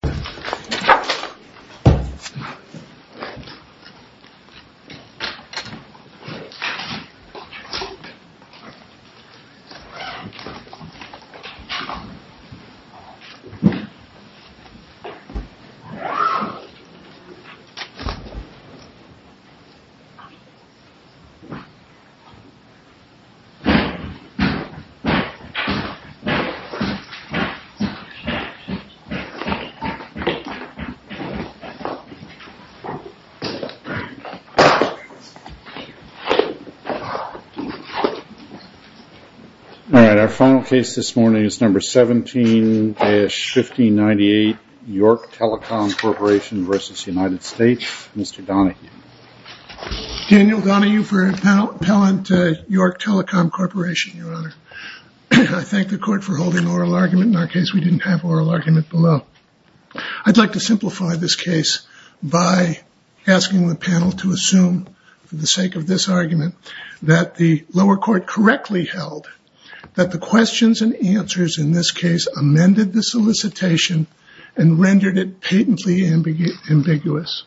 Department of Health and Human Services. All right, our final case this morning is number 17-1598, York Telecom Corporation versus United States. Mr. Donahue. Daniel Donahue for Appellant, York Telecom Corporation, Your Honor. I thank the court for holding oral argument in our case, we didn't have oral argument below. I'd like to simplify this case by asking the panel to assume for the sake of this argument that the lower court correctly held that the questions and answers in this case amended the solicitation and rendered it patently ambiguous.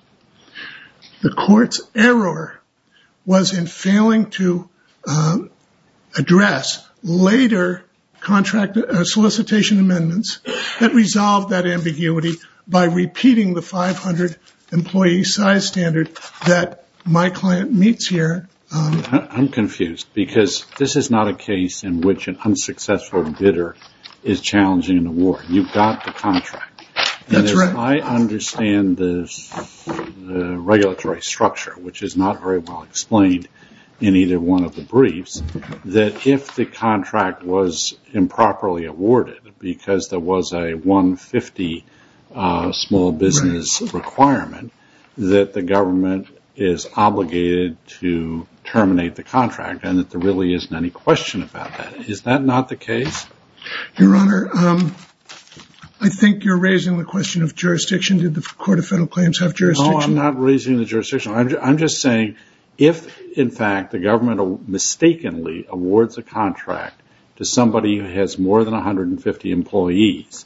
The court's error was in failing to address later solicitation amendments that resolved that ambiguity by repeating the 500 employee size standard that my client meets here. I'm confused because this is not a case in which an unsuccessful bidder is challenging an award. You've got the contract. That's right. I understand the regulatory structure, which is not very well explained in either one of the briefs, that if the contract was improperly awarded because there was a 150 small business requirement that the government is obligated to terminate the contract and that there really isn't any question about that. Is that not the case? Your Honor, I think you're raising the question of jurisdiction. Did the Court of Federal Claims have jurisdiction? No, I'm not raising the jurisdiction, I'm just saying if in fact the government mistakenly awards a contract to somebody who has more than 150 employees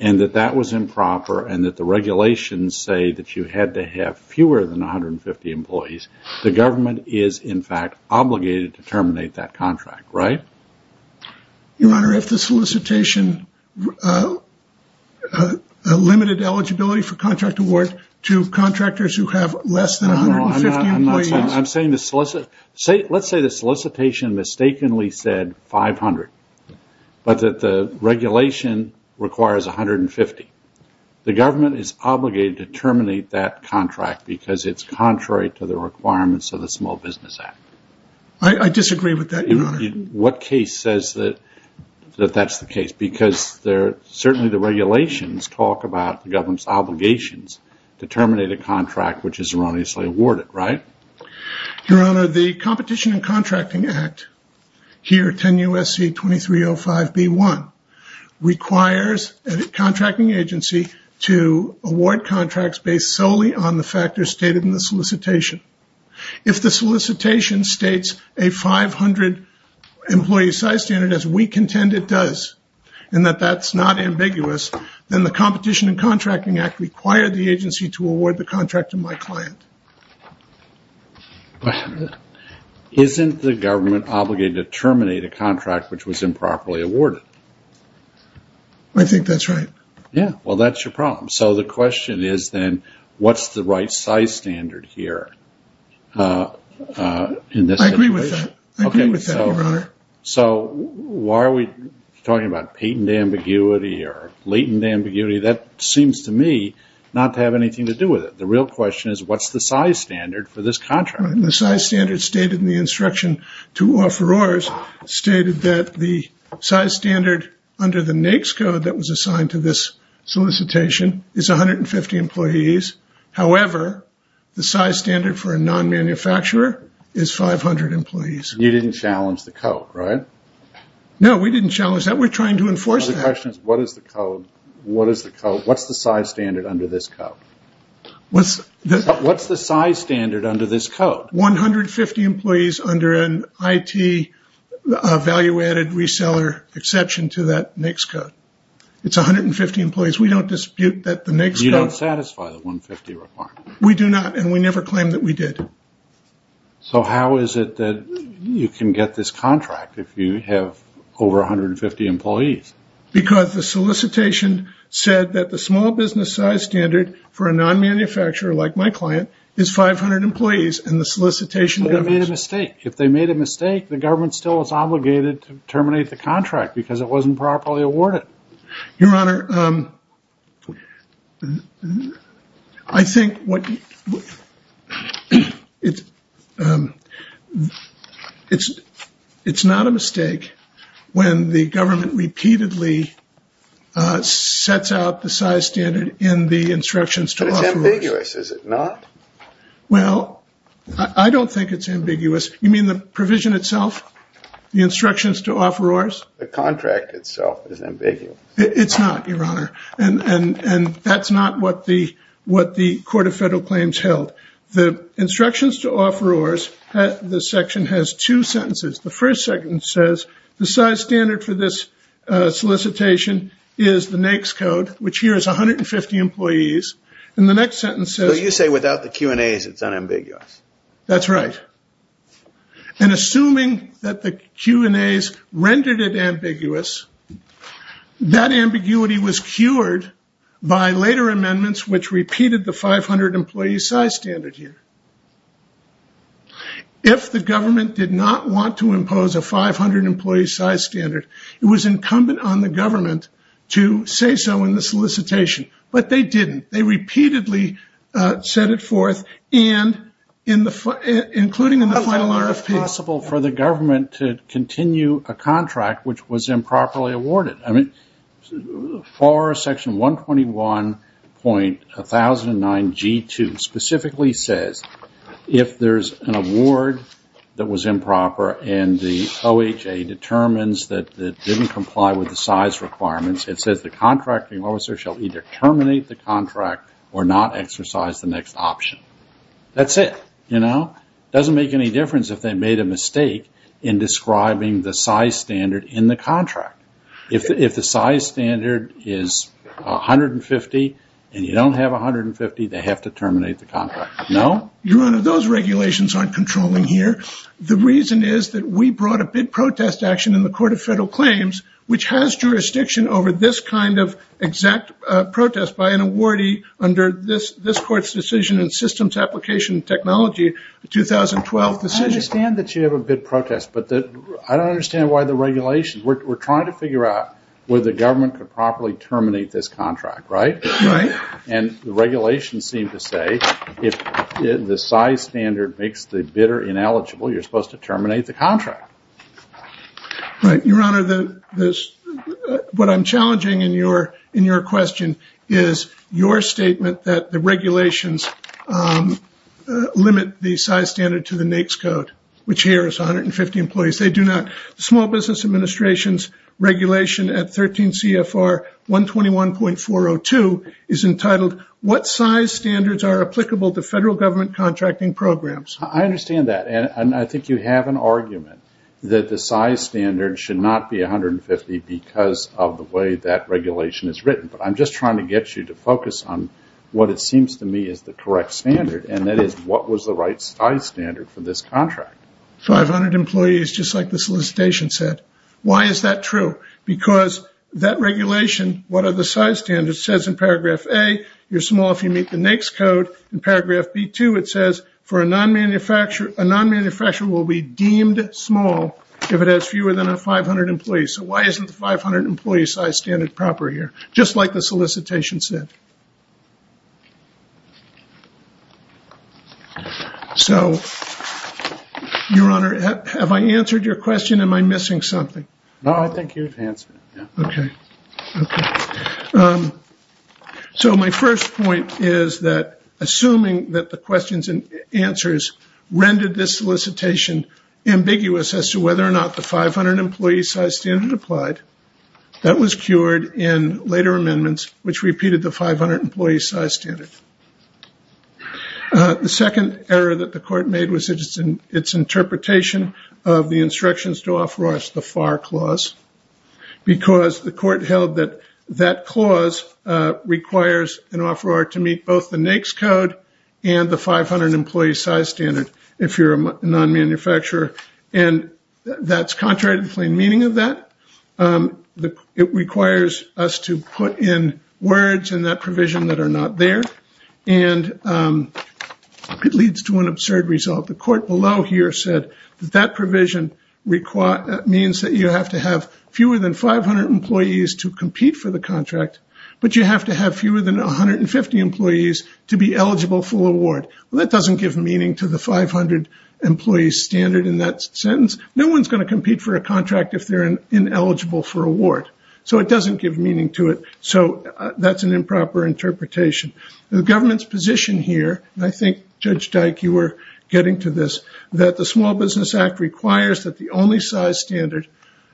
and that that was improper and that the regulations say that you had to have fewer than 150 employees, the government is in fact obligated to terminate that contract, right? Your Honor, if the solicitation limited eligibility for contract award to contractors who have less than 150 employees... I'm saying the solicitation... Let's say the solicitation mistakenly said 500, but that the regulation requires 150. The government is obligated to terminate that contract because it's contrary to the requirements of the Small Business Act. I disagree with that, Your Honor. What case says that that's the case? Because certainly the regulations talk about the government's obligations to terminate a contract which is erroneously awarded, right? Your Honor, the Competition and Contracting Act, here 10 U.S.C. 2305b1, requires a contracting agency to award contracts based solely on the factors stated in the solicitation. If the solicitation states a 500 employee size standard as we contend it does, and that that's not ambiguous, then the Competition and Contracting Act required the agency to award the contract to my client. Isn't the government obligated to terminate a contract which was improperly awarded? I think that's right. Yeah. Well, that's your problem. So the question is then, what's the right size standard here? I agree with that. I agree with that, Your Honor. So why are we talking about patent ambiguity or latent ambiguity? That seems to me not to have anything to do with it. The real question is what's the size standard for this contract? The size standard stated in the instruction to offerors stated that the size standard under the NAICS code that was assigned to this solicitation is 150 employees. However, the size standard for a non-manufacturer is 500 employees. You didn't challenge the code, right? No, we didn't challenge that. We're trying to enforce that. The question is what is the code? What's the size standard under this code? What's the size standard under this code? 150 employees under an IT value-added reseller exception to that NAICS code. It's 150 employees. We don't dispute that the NAICS code... You don't satisfy the 150 requirement. We do not, and we never claim that we did. So how is it that you can get this contract if you have over 150 employees? Because the solicitation said that the small business size standard for a non-manufacturer like my client is 500 employees and the solicitation... They made a mistake. If they made a mistake, the government still is obligated to terminate the contract because it wasn't properly awarded. Your Honor, I think what... It's not a mistake when the government repeatedly sets out the size standard in the instructions to offerors. It's ambiguous. Is it not? Well, I don't think it's ambiguous. You mean the provision itself, the instructions to offerors? The contract itself is ambiguous. It's not, Your Honor, and that's not what the Court of Federal Claims held. The instructions to offerors, the section has two sentences. The first sentence says the size standard for this solicitation is the NAICS code, which requires 150 employees, and the next sentence says... So you say without the Q&As, it's unambiguous? That's right. And assuming that the Q&As rendered it ambiguous, that ambiguity was cured by later amendments which repeated the 500-employee size standard here. If the government did not want to impose a 500-employee size standard, it was incumbent on the government to say so in the solicitation, but they didn't. They repeatedly set it forth, including in the final RFP. How long was it possible for the government to continue a contract which was improperly awarded? I mean, for section 121.1009G2 specifically says if there's an award that was improper and the OHA determines that it didn't comply with the size requirements, it says the contracting officer shall either terminate the contract or not exercise the next option. That's it. You know? It doesn't make any difference if they made a mistake in describing the size standard in the contract. If the size standard is 150 and you don't have 150, they have to terminate the contract. No? Your Honor, those regulations aren't controlling here. The reason is that we brought a bid protest action in the Court of Federal Claims which has jurisdiction over this kind of exact protest by an awardee under this Court's decision in systems application technology, the 2012 decision. I understand that you have a bid protest, but I don't understand why the regulations we're trying to figure out whether the government could properly terminate this contract, right? Right. And the regulations seem to say if the size standard makes the bidder ineligible, you're supposed to terminate the contract. Right. Your Honor, what I'm challenging in your question is your statement that the regulations limit the size standard to the NAICS code, which here is 150 employees. They do not. The Small Business Administration's regulation at 13 CFR 121.402 is entitled, what size standards are applicable to federal government contracting programs? I understand that. And I think you have an argument that the size standard should not be 150 because of the way that regulation is written, but I'm just trying to get you to focus on what it seems to me is the correct standard, and that is what was the right size standard for this contract? 500 employees, just like the solicitation said. Why is that true? Because that regulation, what are the size standards, says in paragraph A, you're small if you meet the NAICS code. In paragraph B2, it says, for a non-manufacturer, a non-manufacturer will be deemed small if it has fewer than 500 employees. So why isn't the 500 employee size standard proper here? Just like the solicitation said. So, your honor, have I answered your question? Am I missing something? No, I think you've answered it. Okay. Okay. So my first point is that, assuming that the questions and answers rendered this solicitation ambiguous as to whether or not the 500 employee size standard applied, that was cured in later The second error that the court made was in its interpretation of the instructions to offer us the FAR clause, because the court held that that clause requires an offeror to meet both the NAICS code and the 500 employee size standard if you're a non-manufacturer, and that's contrary to the plain meaning of that. It requires us to put in words in that provision that are not there, and it leads to an absurd result. The court below here said that that provision means that you have to have fewer than 500 employees to compete for the contract, but you have to have fewer than 150 employees to be eligible for the award. That doesn't give meaning to the 500 employee standard in that sentence. No one's going to compete for a contract if they're ineligible for award. So it doesn't give meaning to it. So that's an improper interpretation. The government's position here, and I think, Judge Dyke, you were getting to this, that the Small Business Act requires that the only size standard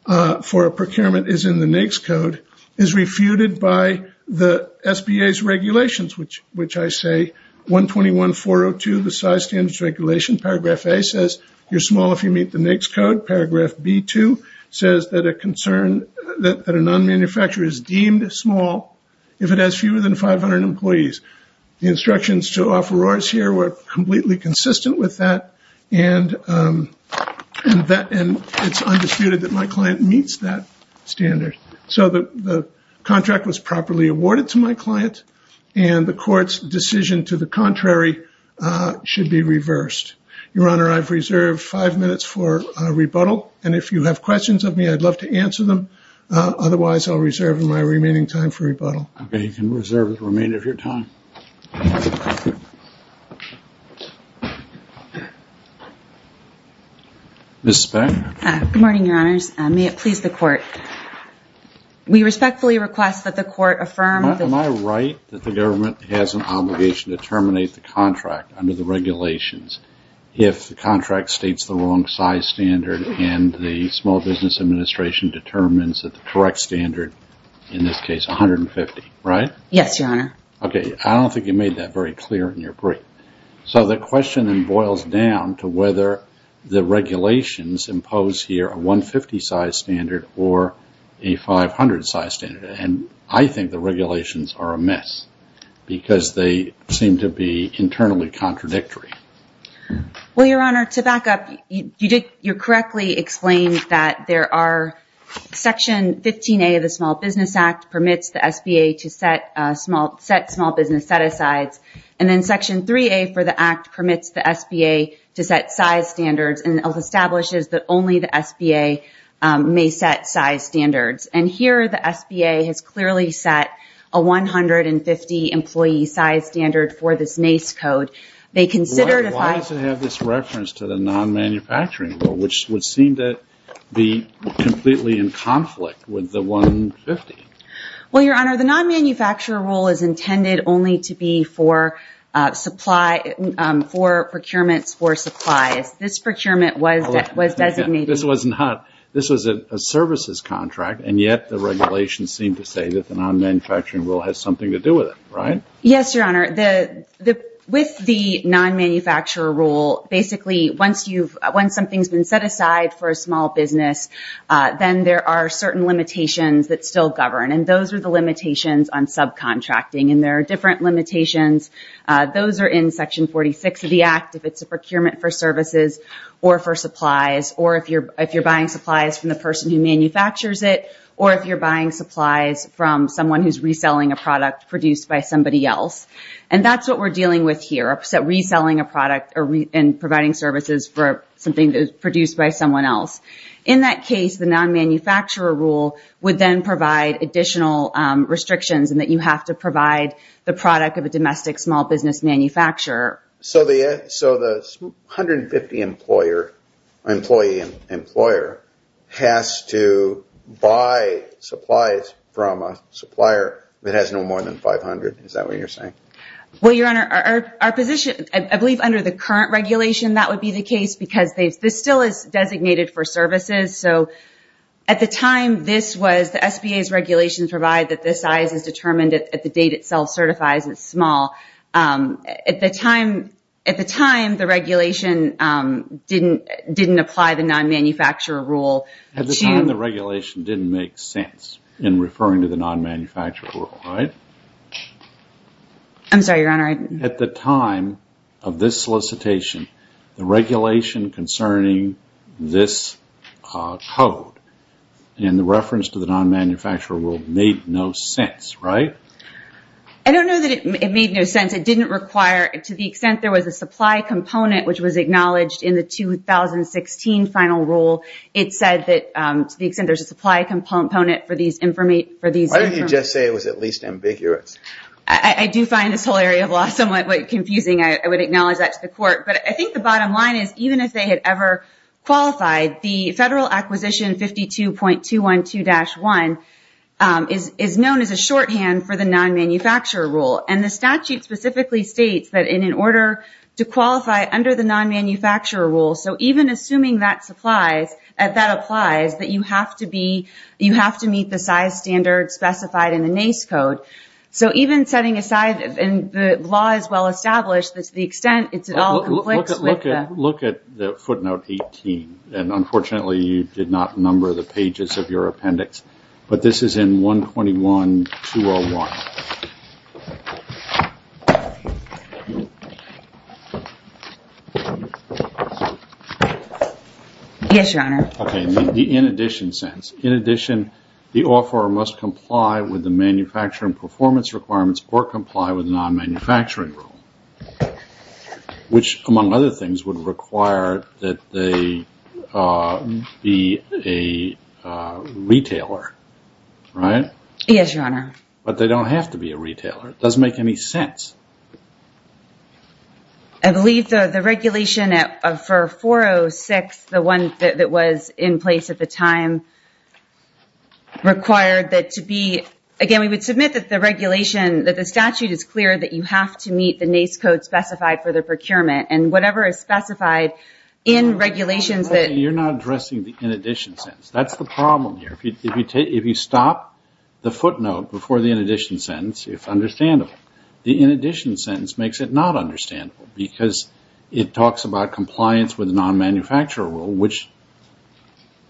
for a procurement is in the NAICS code, is refuted by the SBA's regulations, which I say, 121.402, the size standard regulation paragraph A says you're small if you meet the NAICS code. Paragraph B2 says that a non-manufacturer is deemed small if it has fewer than 500 employees. The instructions to offerors here were completely consistent with that, and it's undisputed that my client meets that standard. So the contract was properly awarded to my client, and the court's decision to the contrary should be reversed. Your Honor, I've reserved five minutes for rebuttal, and if you have questions of me, I'd love to answer them. Otherwise, I'll reserve my remaining time for rebuttal. Okay. You can reserve the remainder of your time. Ms. Speck? Good morning, Your Honors. May it please the Court. We respectfully request that the Court affirm the- Am I right that the government has an obligation to terminate the contract? Under the regulations, if the contract states the wrong size standard and the Small Business Administration determines that the correct standard, in this case, 150, right? Yes, Your Honor. Okay. I don't think you made that very clear in your brief. So the question then boils down to whether the regulations impose here a 150 size standard or a 500 size standard, and I think the regulations are amiss because they seem to be internally contradictory. Well, Your Honor, to back up, you correctly explained that there are Section 15A of the Small Business Act permits the SBA to set small business set-asides, and then Section 3A for the Act permits the SBA to set size standards and establishes that only the SBA may set size standards, and here the SBA has clearly set a 150 employee size standard for this NACE code. They considered if I- Why does it have this reference to the non-manufacturing rule, which would seem to be completely in conflict with the 150? Well, Your Honor, the non-manufacturer rule is intended only to be for procurements for supplies. This procurement was designated- This was a services contract, and yet the regulations seem to say that the non-manufacturing rule has something to do with it, right? Yes, Your Honor. With the non-manufacturer rule, basically once something's been set aside for a small business, then there are certain limitations that still govern, and those are the limitations on subcontracting, and there are different limitations. Those are in Section 46 of the Act if it's a procurement for services or for supplies or if you're buying supplies from the person who manufactures it or if you're buying supplies from someone who's reselling a product produced by somebody else, and that's what we're dealing with here, reselling a product and providing services for something that is produced by someone else. In that case, the non-manufacturer rule would then provide additional restrictions in that you have to provide the product of a domestic small business manufacturer. So the 150 employee employer has to buy supplies from a supplier that has no more than 500? Is that what you're saying? Well, Your Honor, our position, I believe under the current regulation, that would be the case because this still is designated for services. At the time, this was the SBA's regulations provide that this size is determined at the date itself certifies it's small. At the time, the regulation didn't apply the non-manufacturer rule. At the time, the regulation didn't make sense in referring to the non-manufacturer rule, right? I'm sorry, Your Honor. At the time of this solicitation, the regulation concerning this code and the reference to the non-manufacturer rule made no sense, right? I don't know that it made no sense. It didn't require, to the extent there was a supply component, which was acknowledged in the 2016 final rule, it said that to the extent there's a supply component for these information... Why didn't you just say it was at least ambiguous? I do find this whole area of law somewhat confusing. I would acknowledge that to the court, but I think the bottom line is even if they had ever qualified, the Federal Acquisition 52.212-1 is known as a shorthand for the non-manufacturer rule. The statute specifically states that in order to qualify under the non-manufacturer rule, so even assuming that applies, that you have to meet the size standard specified in the NACE code. Even setting aside, and the law is well-established, to the extent it all conflicts with the... I would look at the footnote 18, and unfortunately, you did not number the pages of your appendix, but this is in 121.201. Yes, Your Honor. Okay. The in addition sentence. In addition, the offeror must comply with the manufacturing performance requirements or comply with the non-manufacturing rule, which among other things would require that they be a retailer, right? Yes, Your Honor. But they don't have to be a retailer. It doesn't make any sense. I believe the regulation for 406, the one that was in place at the time, required that it to be... Again, we would submit that the regulation, that the statute is clear that you have to meet the NACE code specified for the procurement, and whatever is specified in regulations that... Your Honor, you're not addressing the in addition sentence. That's the problem here. If you stop the footnote before the in addition sentence, it's understandable. The in addition sentence makes it not understandable, because it talks about compliance with non-manufacturer rule, which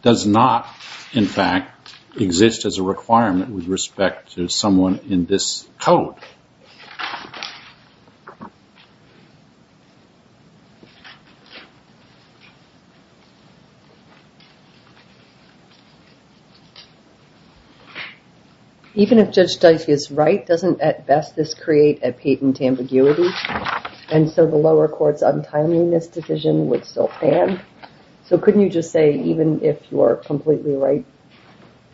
does not, in fact, exist as a requirement with respect to someone in this code. Even if Judge Dicey is right, doesn't at best this create a patent ambiguity? And so the lower court's untimeliness decision would still pan. So couldn't you just say, even if you are completely right,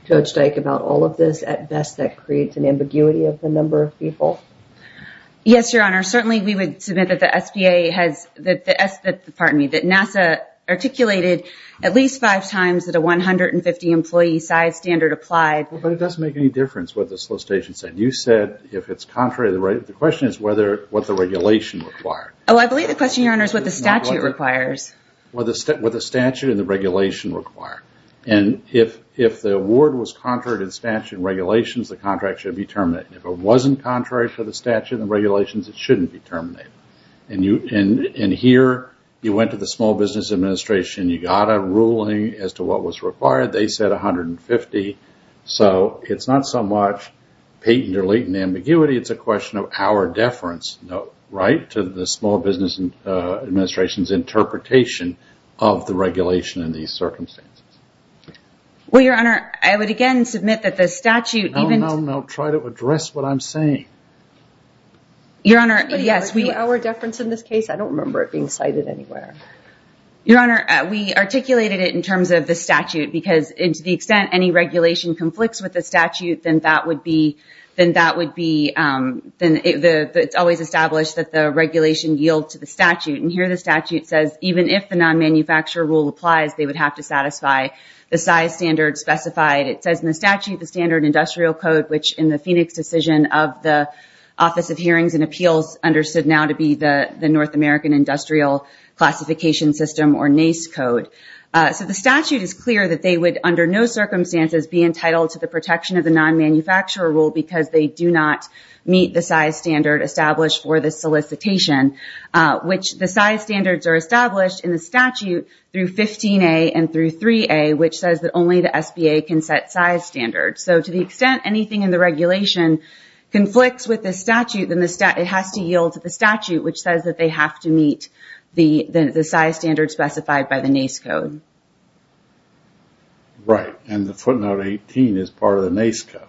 Judge Dyke, about all of this, at best that creates an ambiguity of the number of people? Yes, Your Honor. Certainly, we would submit that the SBA has... Pardon me, that NASA articulated at least five times that a 150-employee size standard applied. But it doesn't make any difference what the solicitation said. You said, if it's contrary, the question is what the regulation required. Oh, I believe the question, Your Honor, is what the statute requires. What the statute and the regulation require. And if the award was contrary to the statute and regulations, the contract should be terminated. If it wasn't contrary to the statute and the regulations, it shouldn't be terminated. And here, you went to the Small Business Administration. You got a ruling as to what was required. They said 150. So it's not so much patent or latent ambiguity. It's a question of our deference, right, to the Small Business Administration's interpretation of the regulation in these circumstances. Well, Your Honor, I would again submit that the statute even... No, no, no. Try to address what I'm saying. Your Honor, yes, we... Somebody argued our deference in this case. I don't remember it being cited anywhere. Your Honor, we articulated it in terms of the statute because to the extent any regulation conflicts with the statute, then that would be... It's always established that the regulation yield to the statute. And here, the statute says even if the non-manufacturer rule applies, they would have to satisfy the size standard specified. It says in the statute, the standard industrial code, which in the Phoenix decision of the Office of Hearings and Appeals understood now to be the North American Industrial Classification System or NACE code. So the statute is clear that they would under no circumstances be entitled to the protection of the non-manufacturer rule because they do not meet the size standard established for the solicitation, which the size standards are established in the statute through 15A and through 3A, which says that only the SBA can set size standards. So to the extent anything in the regulation conflicts with the statute, then it has to yield to the statute, which says that they have to meet the size standard specified by the NACE code. Right. And the footnote 18 is part of the NACE code.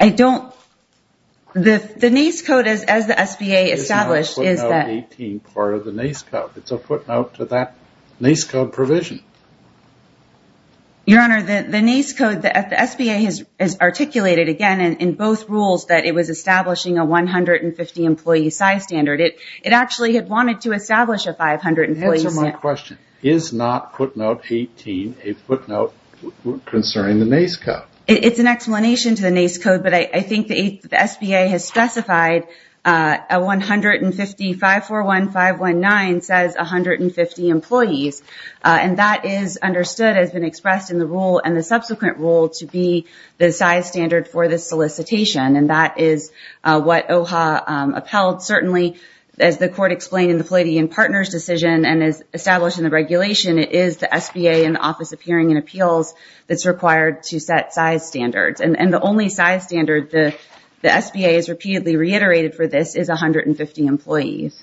I don't... The NACE code as the SBA established is that... The footnote 18 is part of the NACE code. It's a footnote to that NACE code provision. Your Honor, the NACE code, the SBA has articulated, again, in both rules that it was establishing a 150-employee size standard. It actually had wanted to establish a 500-employee... Answer my question. Is not footnote 18 a footnote concerning the NACE code? It's an explanation to the NACE code, but I think the SBA has specified a 150... 541-519 says 150 employees. And that is understood, has been expressed in the rule and the subsequent rule to be the size standard for this solicitation. And that is what OHA upheld. Certainly, as the Court explained in the Palladian Partners decision and as established in the regulation, it is the SBA and the Office of Hearing and Appeals that's required to set size standards. And the only size standard the SBA has repeatedly reiterated for this is 150 employees.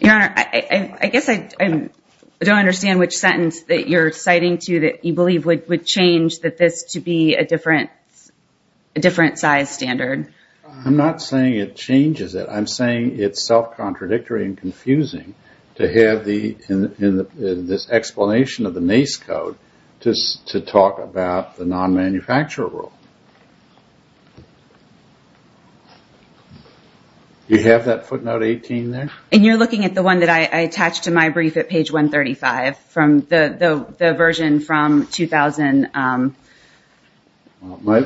Your Honor, I guess I don't understand which sentence that you're citing to that you believe would change that this to be a different size standard. I'm not saying it changes it. To have this explanation of the NACE code to talk about the non-manufacturer rule. You have that footnote 18 there? And you're looking at the one that I attached to my brief at page 135 from the version from 2000... My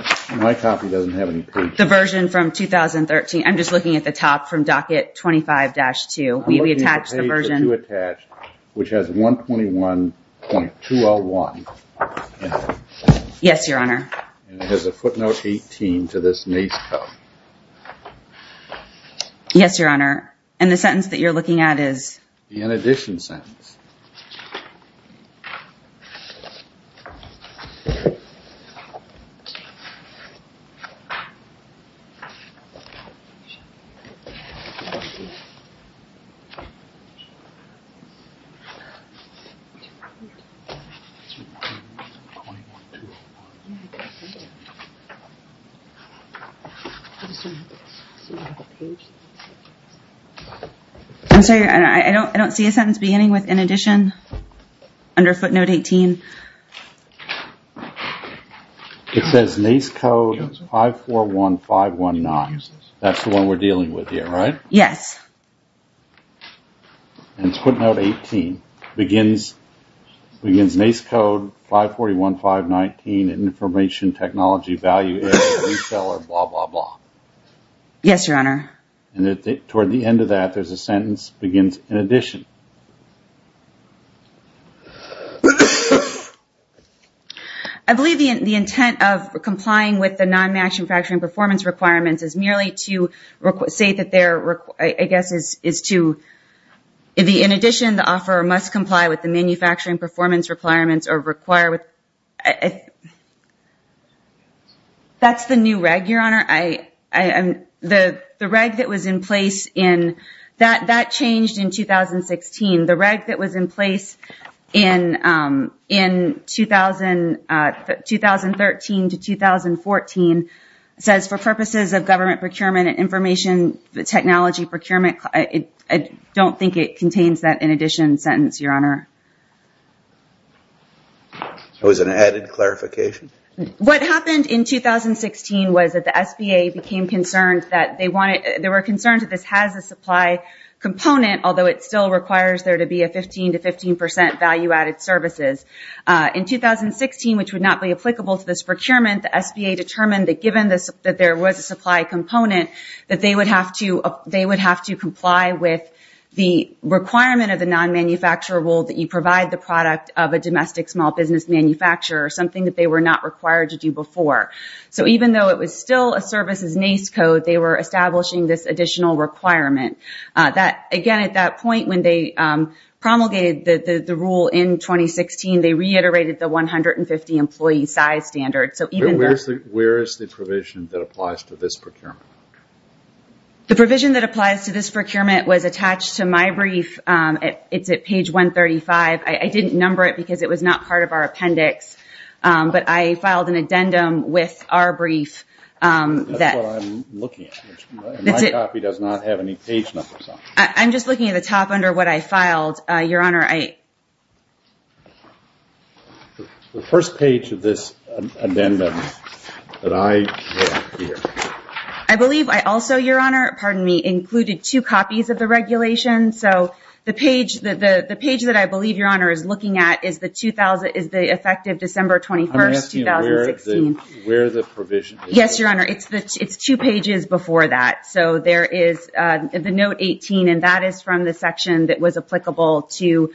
copy doesn't have any pages. The version from 2013. I'm just looking at the top from docket 25-2. I'm looking at the page that you attached, which has 121.201 in it. Yes, Your Honor. And it has a footnote 18 to this NACE code. Yes, Your Honor. And the sentence that you're looking at is... The in addition sentence. 21-2. I'm sorry, I don't see a sentence beginning with in addition under footnote 18. It says NACE code 541-519. That's the one we're dealing with here, right? Yes. And footnote 18 begins NACE code 541-519 information technology value is reseller blah, blah, blah. Yes, Your Honor. And toward the end of that, there's a sentence begins in addition. I believe the intent of complying with the non-manufacturing performance requirements is merely to say that there, I guess, is to... In addition, the offeror must comply with the manufacturing performance requirements or require with... That's the new reg, Your Honor. The reg that was in place in... That changed in 2016. The reg that was in place in 2013 to 2014 says for purposes of government procurement and information technology procurement, I don't think it contains that in addition sentence, Your Honor. It was an added clarification? What happened in 2016 was that the SBA became concerned that they wanted... They were concerned that this has a supply component although it still requires there to be a 15 to 15% value added services. In 2016, which would not be applicable to this procurement, the SBA determined that given that there was a supply component, that they would have to comply with the requirement of the non-manufacturer rule that you provide the product of a domestic small business manufacturer, something that they were not required to do before. So even though it was still a services NACE code, they were establishing this additional requirement. Again, at that point when they promulgated the rule in 2016, they reiterated the 150 employee size standard. Where is the provision that applies to this procurement? The provision that applies to this procurement was attached to my brief. It's at page 135. I didn't number it because it was not part of our appendix, but I filed an addendum with our brief. That's what I'm looking at. My copy does not have any page numbers on it. I'm just looking at the top under what I filed, Your Honor. The first page of this amendment that I wrote here. I believe I also, Your Honor, pardon me, included two copies of the regulation. So the page that I believe Your Honor is looking at is the effective December 21, 2016. I'm asking you where the provision is. Yes, Your Honor. It's two pages before that. So there is the note 18, and that is from the section that was applicable to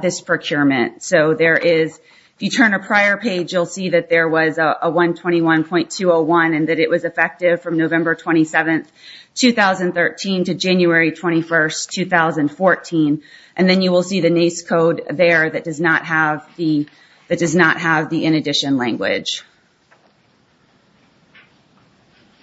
this procurement. So there is, if you turn a prior page, you'll see that there was a 121.201, and that it was effective from November 27, 2013 to January 21, 2014. And then you will see the NACE code there that does not have the in addition language.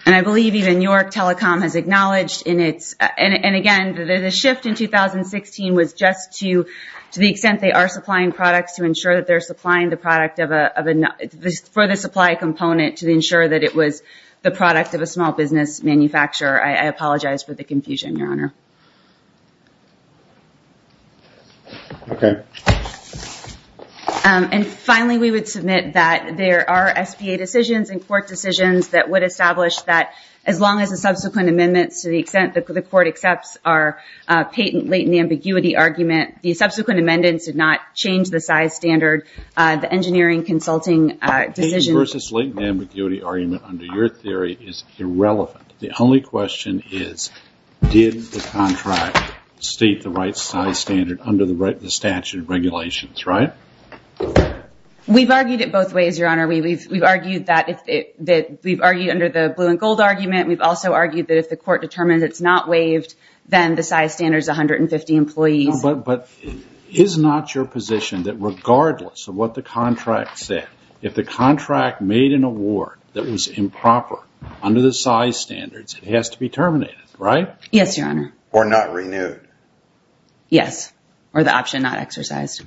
And I believe even York Telecom has acknowledged, and again, the shift in 2016 was just to the extent they are supplying products to ensure that they're supplying the product for the supply component to ensure that it was the product of a small business manufacturer. I apologize for the confusion, Your Honor. Okay. And finally, we would submit that there are SPA decisions and court decisions that would establish that as long as the subsequent amendments to the extent that the court accepts our patent latent ambiguity argument, the subsequent amendments did not change the size standard, the engineering consulting decision... The patent versus latent ambiguity argument under your theory is irrelevant. The only question is, did the contract state the right size standard under the statute of regulations, right? We've argued it both ways, Your Honor. We've argued under the blue and gold argument. We've also argued that if the court determines it's not waived, then the size standard is 150 employees. But is not your position that regardless of what the contract said, if the contract made an award that was improper under the size standards, it has to be terminated, right? Yes, Your Honor. Yes. Or the option not exercised.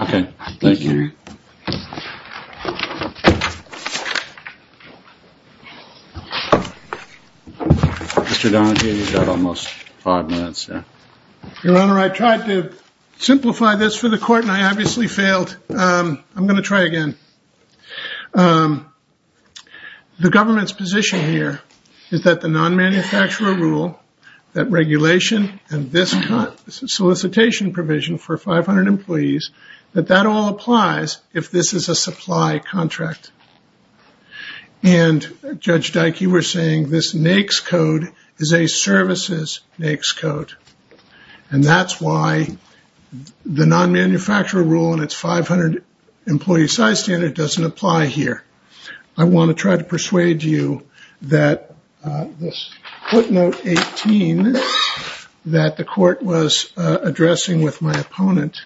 Okay. Thank you. Mr. Donahue, you've got almost five minutes. Your Honor, I tried to simplify this for the court and I obviously failed. I'm going to try again. The government's position here is that the non-manufacturer rule, that regulation, and this solicitation provision for 500 employees, that that all applies if this is a supply contract. And Judge Dike, you were saying this NAICS code is a services NAICS code. And that's why the non-manufacturer rule and it's 500 employee size standard doesn't apply here. I want to try to persuade you that this footnote 18 that the court was addressing with my opponent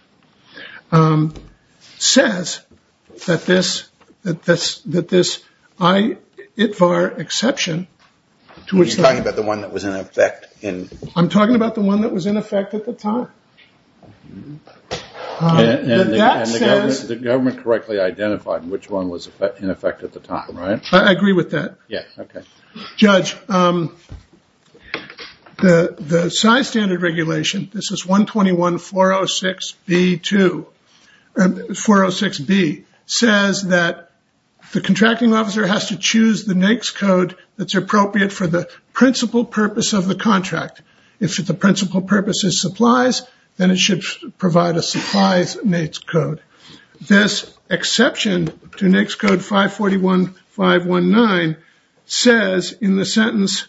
says that this that this IITVAR exception Are you talking about the one that was in effect? I'm talking about the one that was in effect at the time. And the government correctly identified which one was in effect at the time, right? I agree with that. Judge, the size standard regulation this is 121 406 B2 406 B says that the contracting officer has to choose the NAICS code that's appropriate for the principal purpose of the contract. If the principal purpose is supplies then it should provide a supplies NAICS code. This exception to NAICS code 541 519 says in the sentence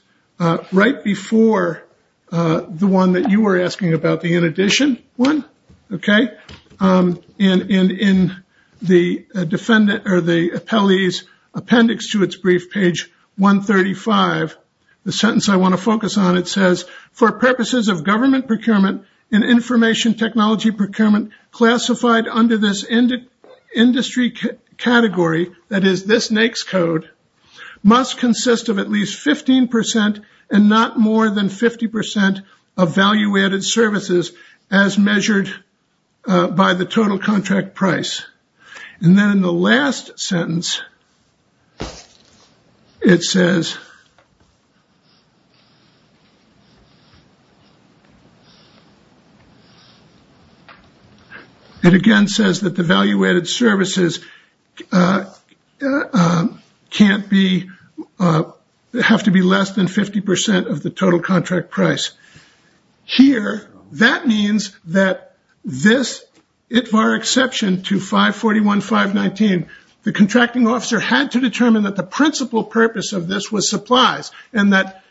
right before the one that you were asking about, the in addition one okay in the defendant or the appellee's appendix to its brief page 135 the sentence I want to focus on it says for purposes of government procurement and information technology procurement classified under this industry category that is this NAICS code must consist of at least 15% and not more than 50% of value added services as measured by the total contract price and then in the last sentence it says it again says that the value added services can't be have to be less than 50% of the total contract price here that means that this ITVAR exception to 541 519 the contracting officer had to determine that the principal purpose of this was supplies and that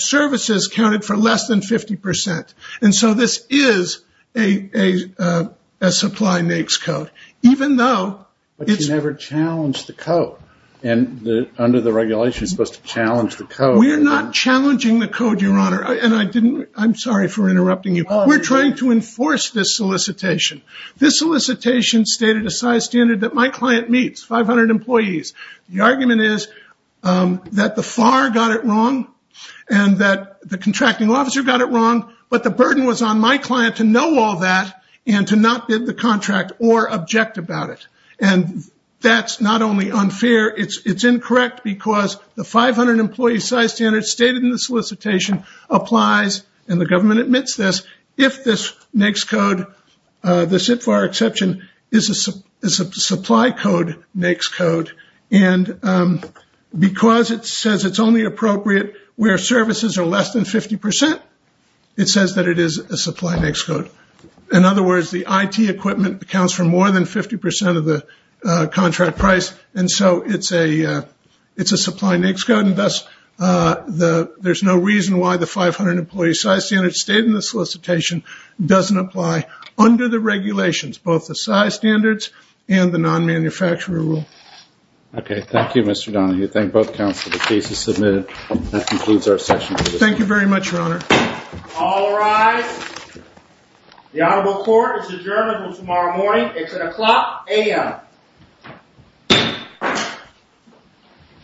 services counted for less than 50% and so this is a supply NAICS code even though it's never challenged the code and under the regulations it's supposed to challenge the code we're not challenging the code your honor and I'm sorry for interrupting you we're trying to enforce this solicitation this solicitation stated a size standard that my client meets 500 employees the argument is that the FAR got it wrong and that the contracting officer got it wrong but the burden was on my client to know all that and to not bid the contract or object about it and that's not only unfair it's incorrect because the 500 employee size standard stated in the solicitation applies and the government admits this if this NAICS code this ITVAR exception is a supply code NAICS code and because it says it's only appropriate where services are less than 50% it says that it is a supply NAICS code in other words the IT equipment accounts for more than 50% of the contract price and so it's a supply NAICS code and thus there's no reason why the 500 employee size standard stated in the solicitation doesn't apply under the regulations both the size standards and the non-manufacturer rule okay thank you Mr. Donahue thank both counsel the case is submitted that concludes our session thank you very much your honor all rise the honorable court is adjourned until tomorrow morning it's at o'clock a.m. thank you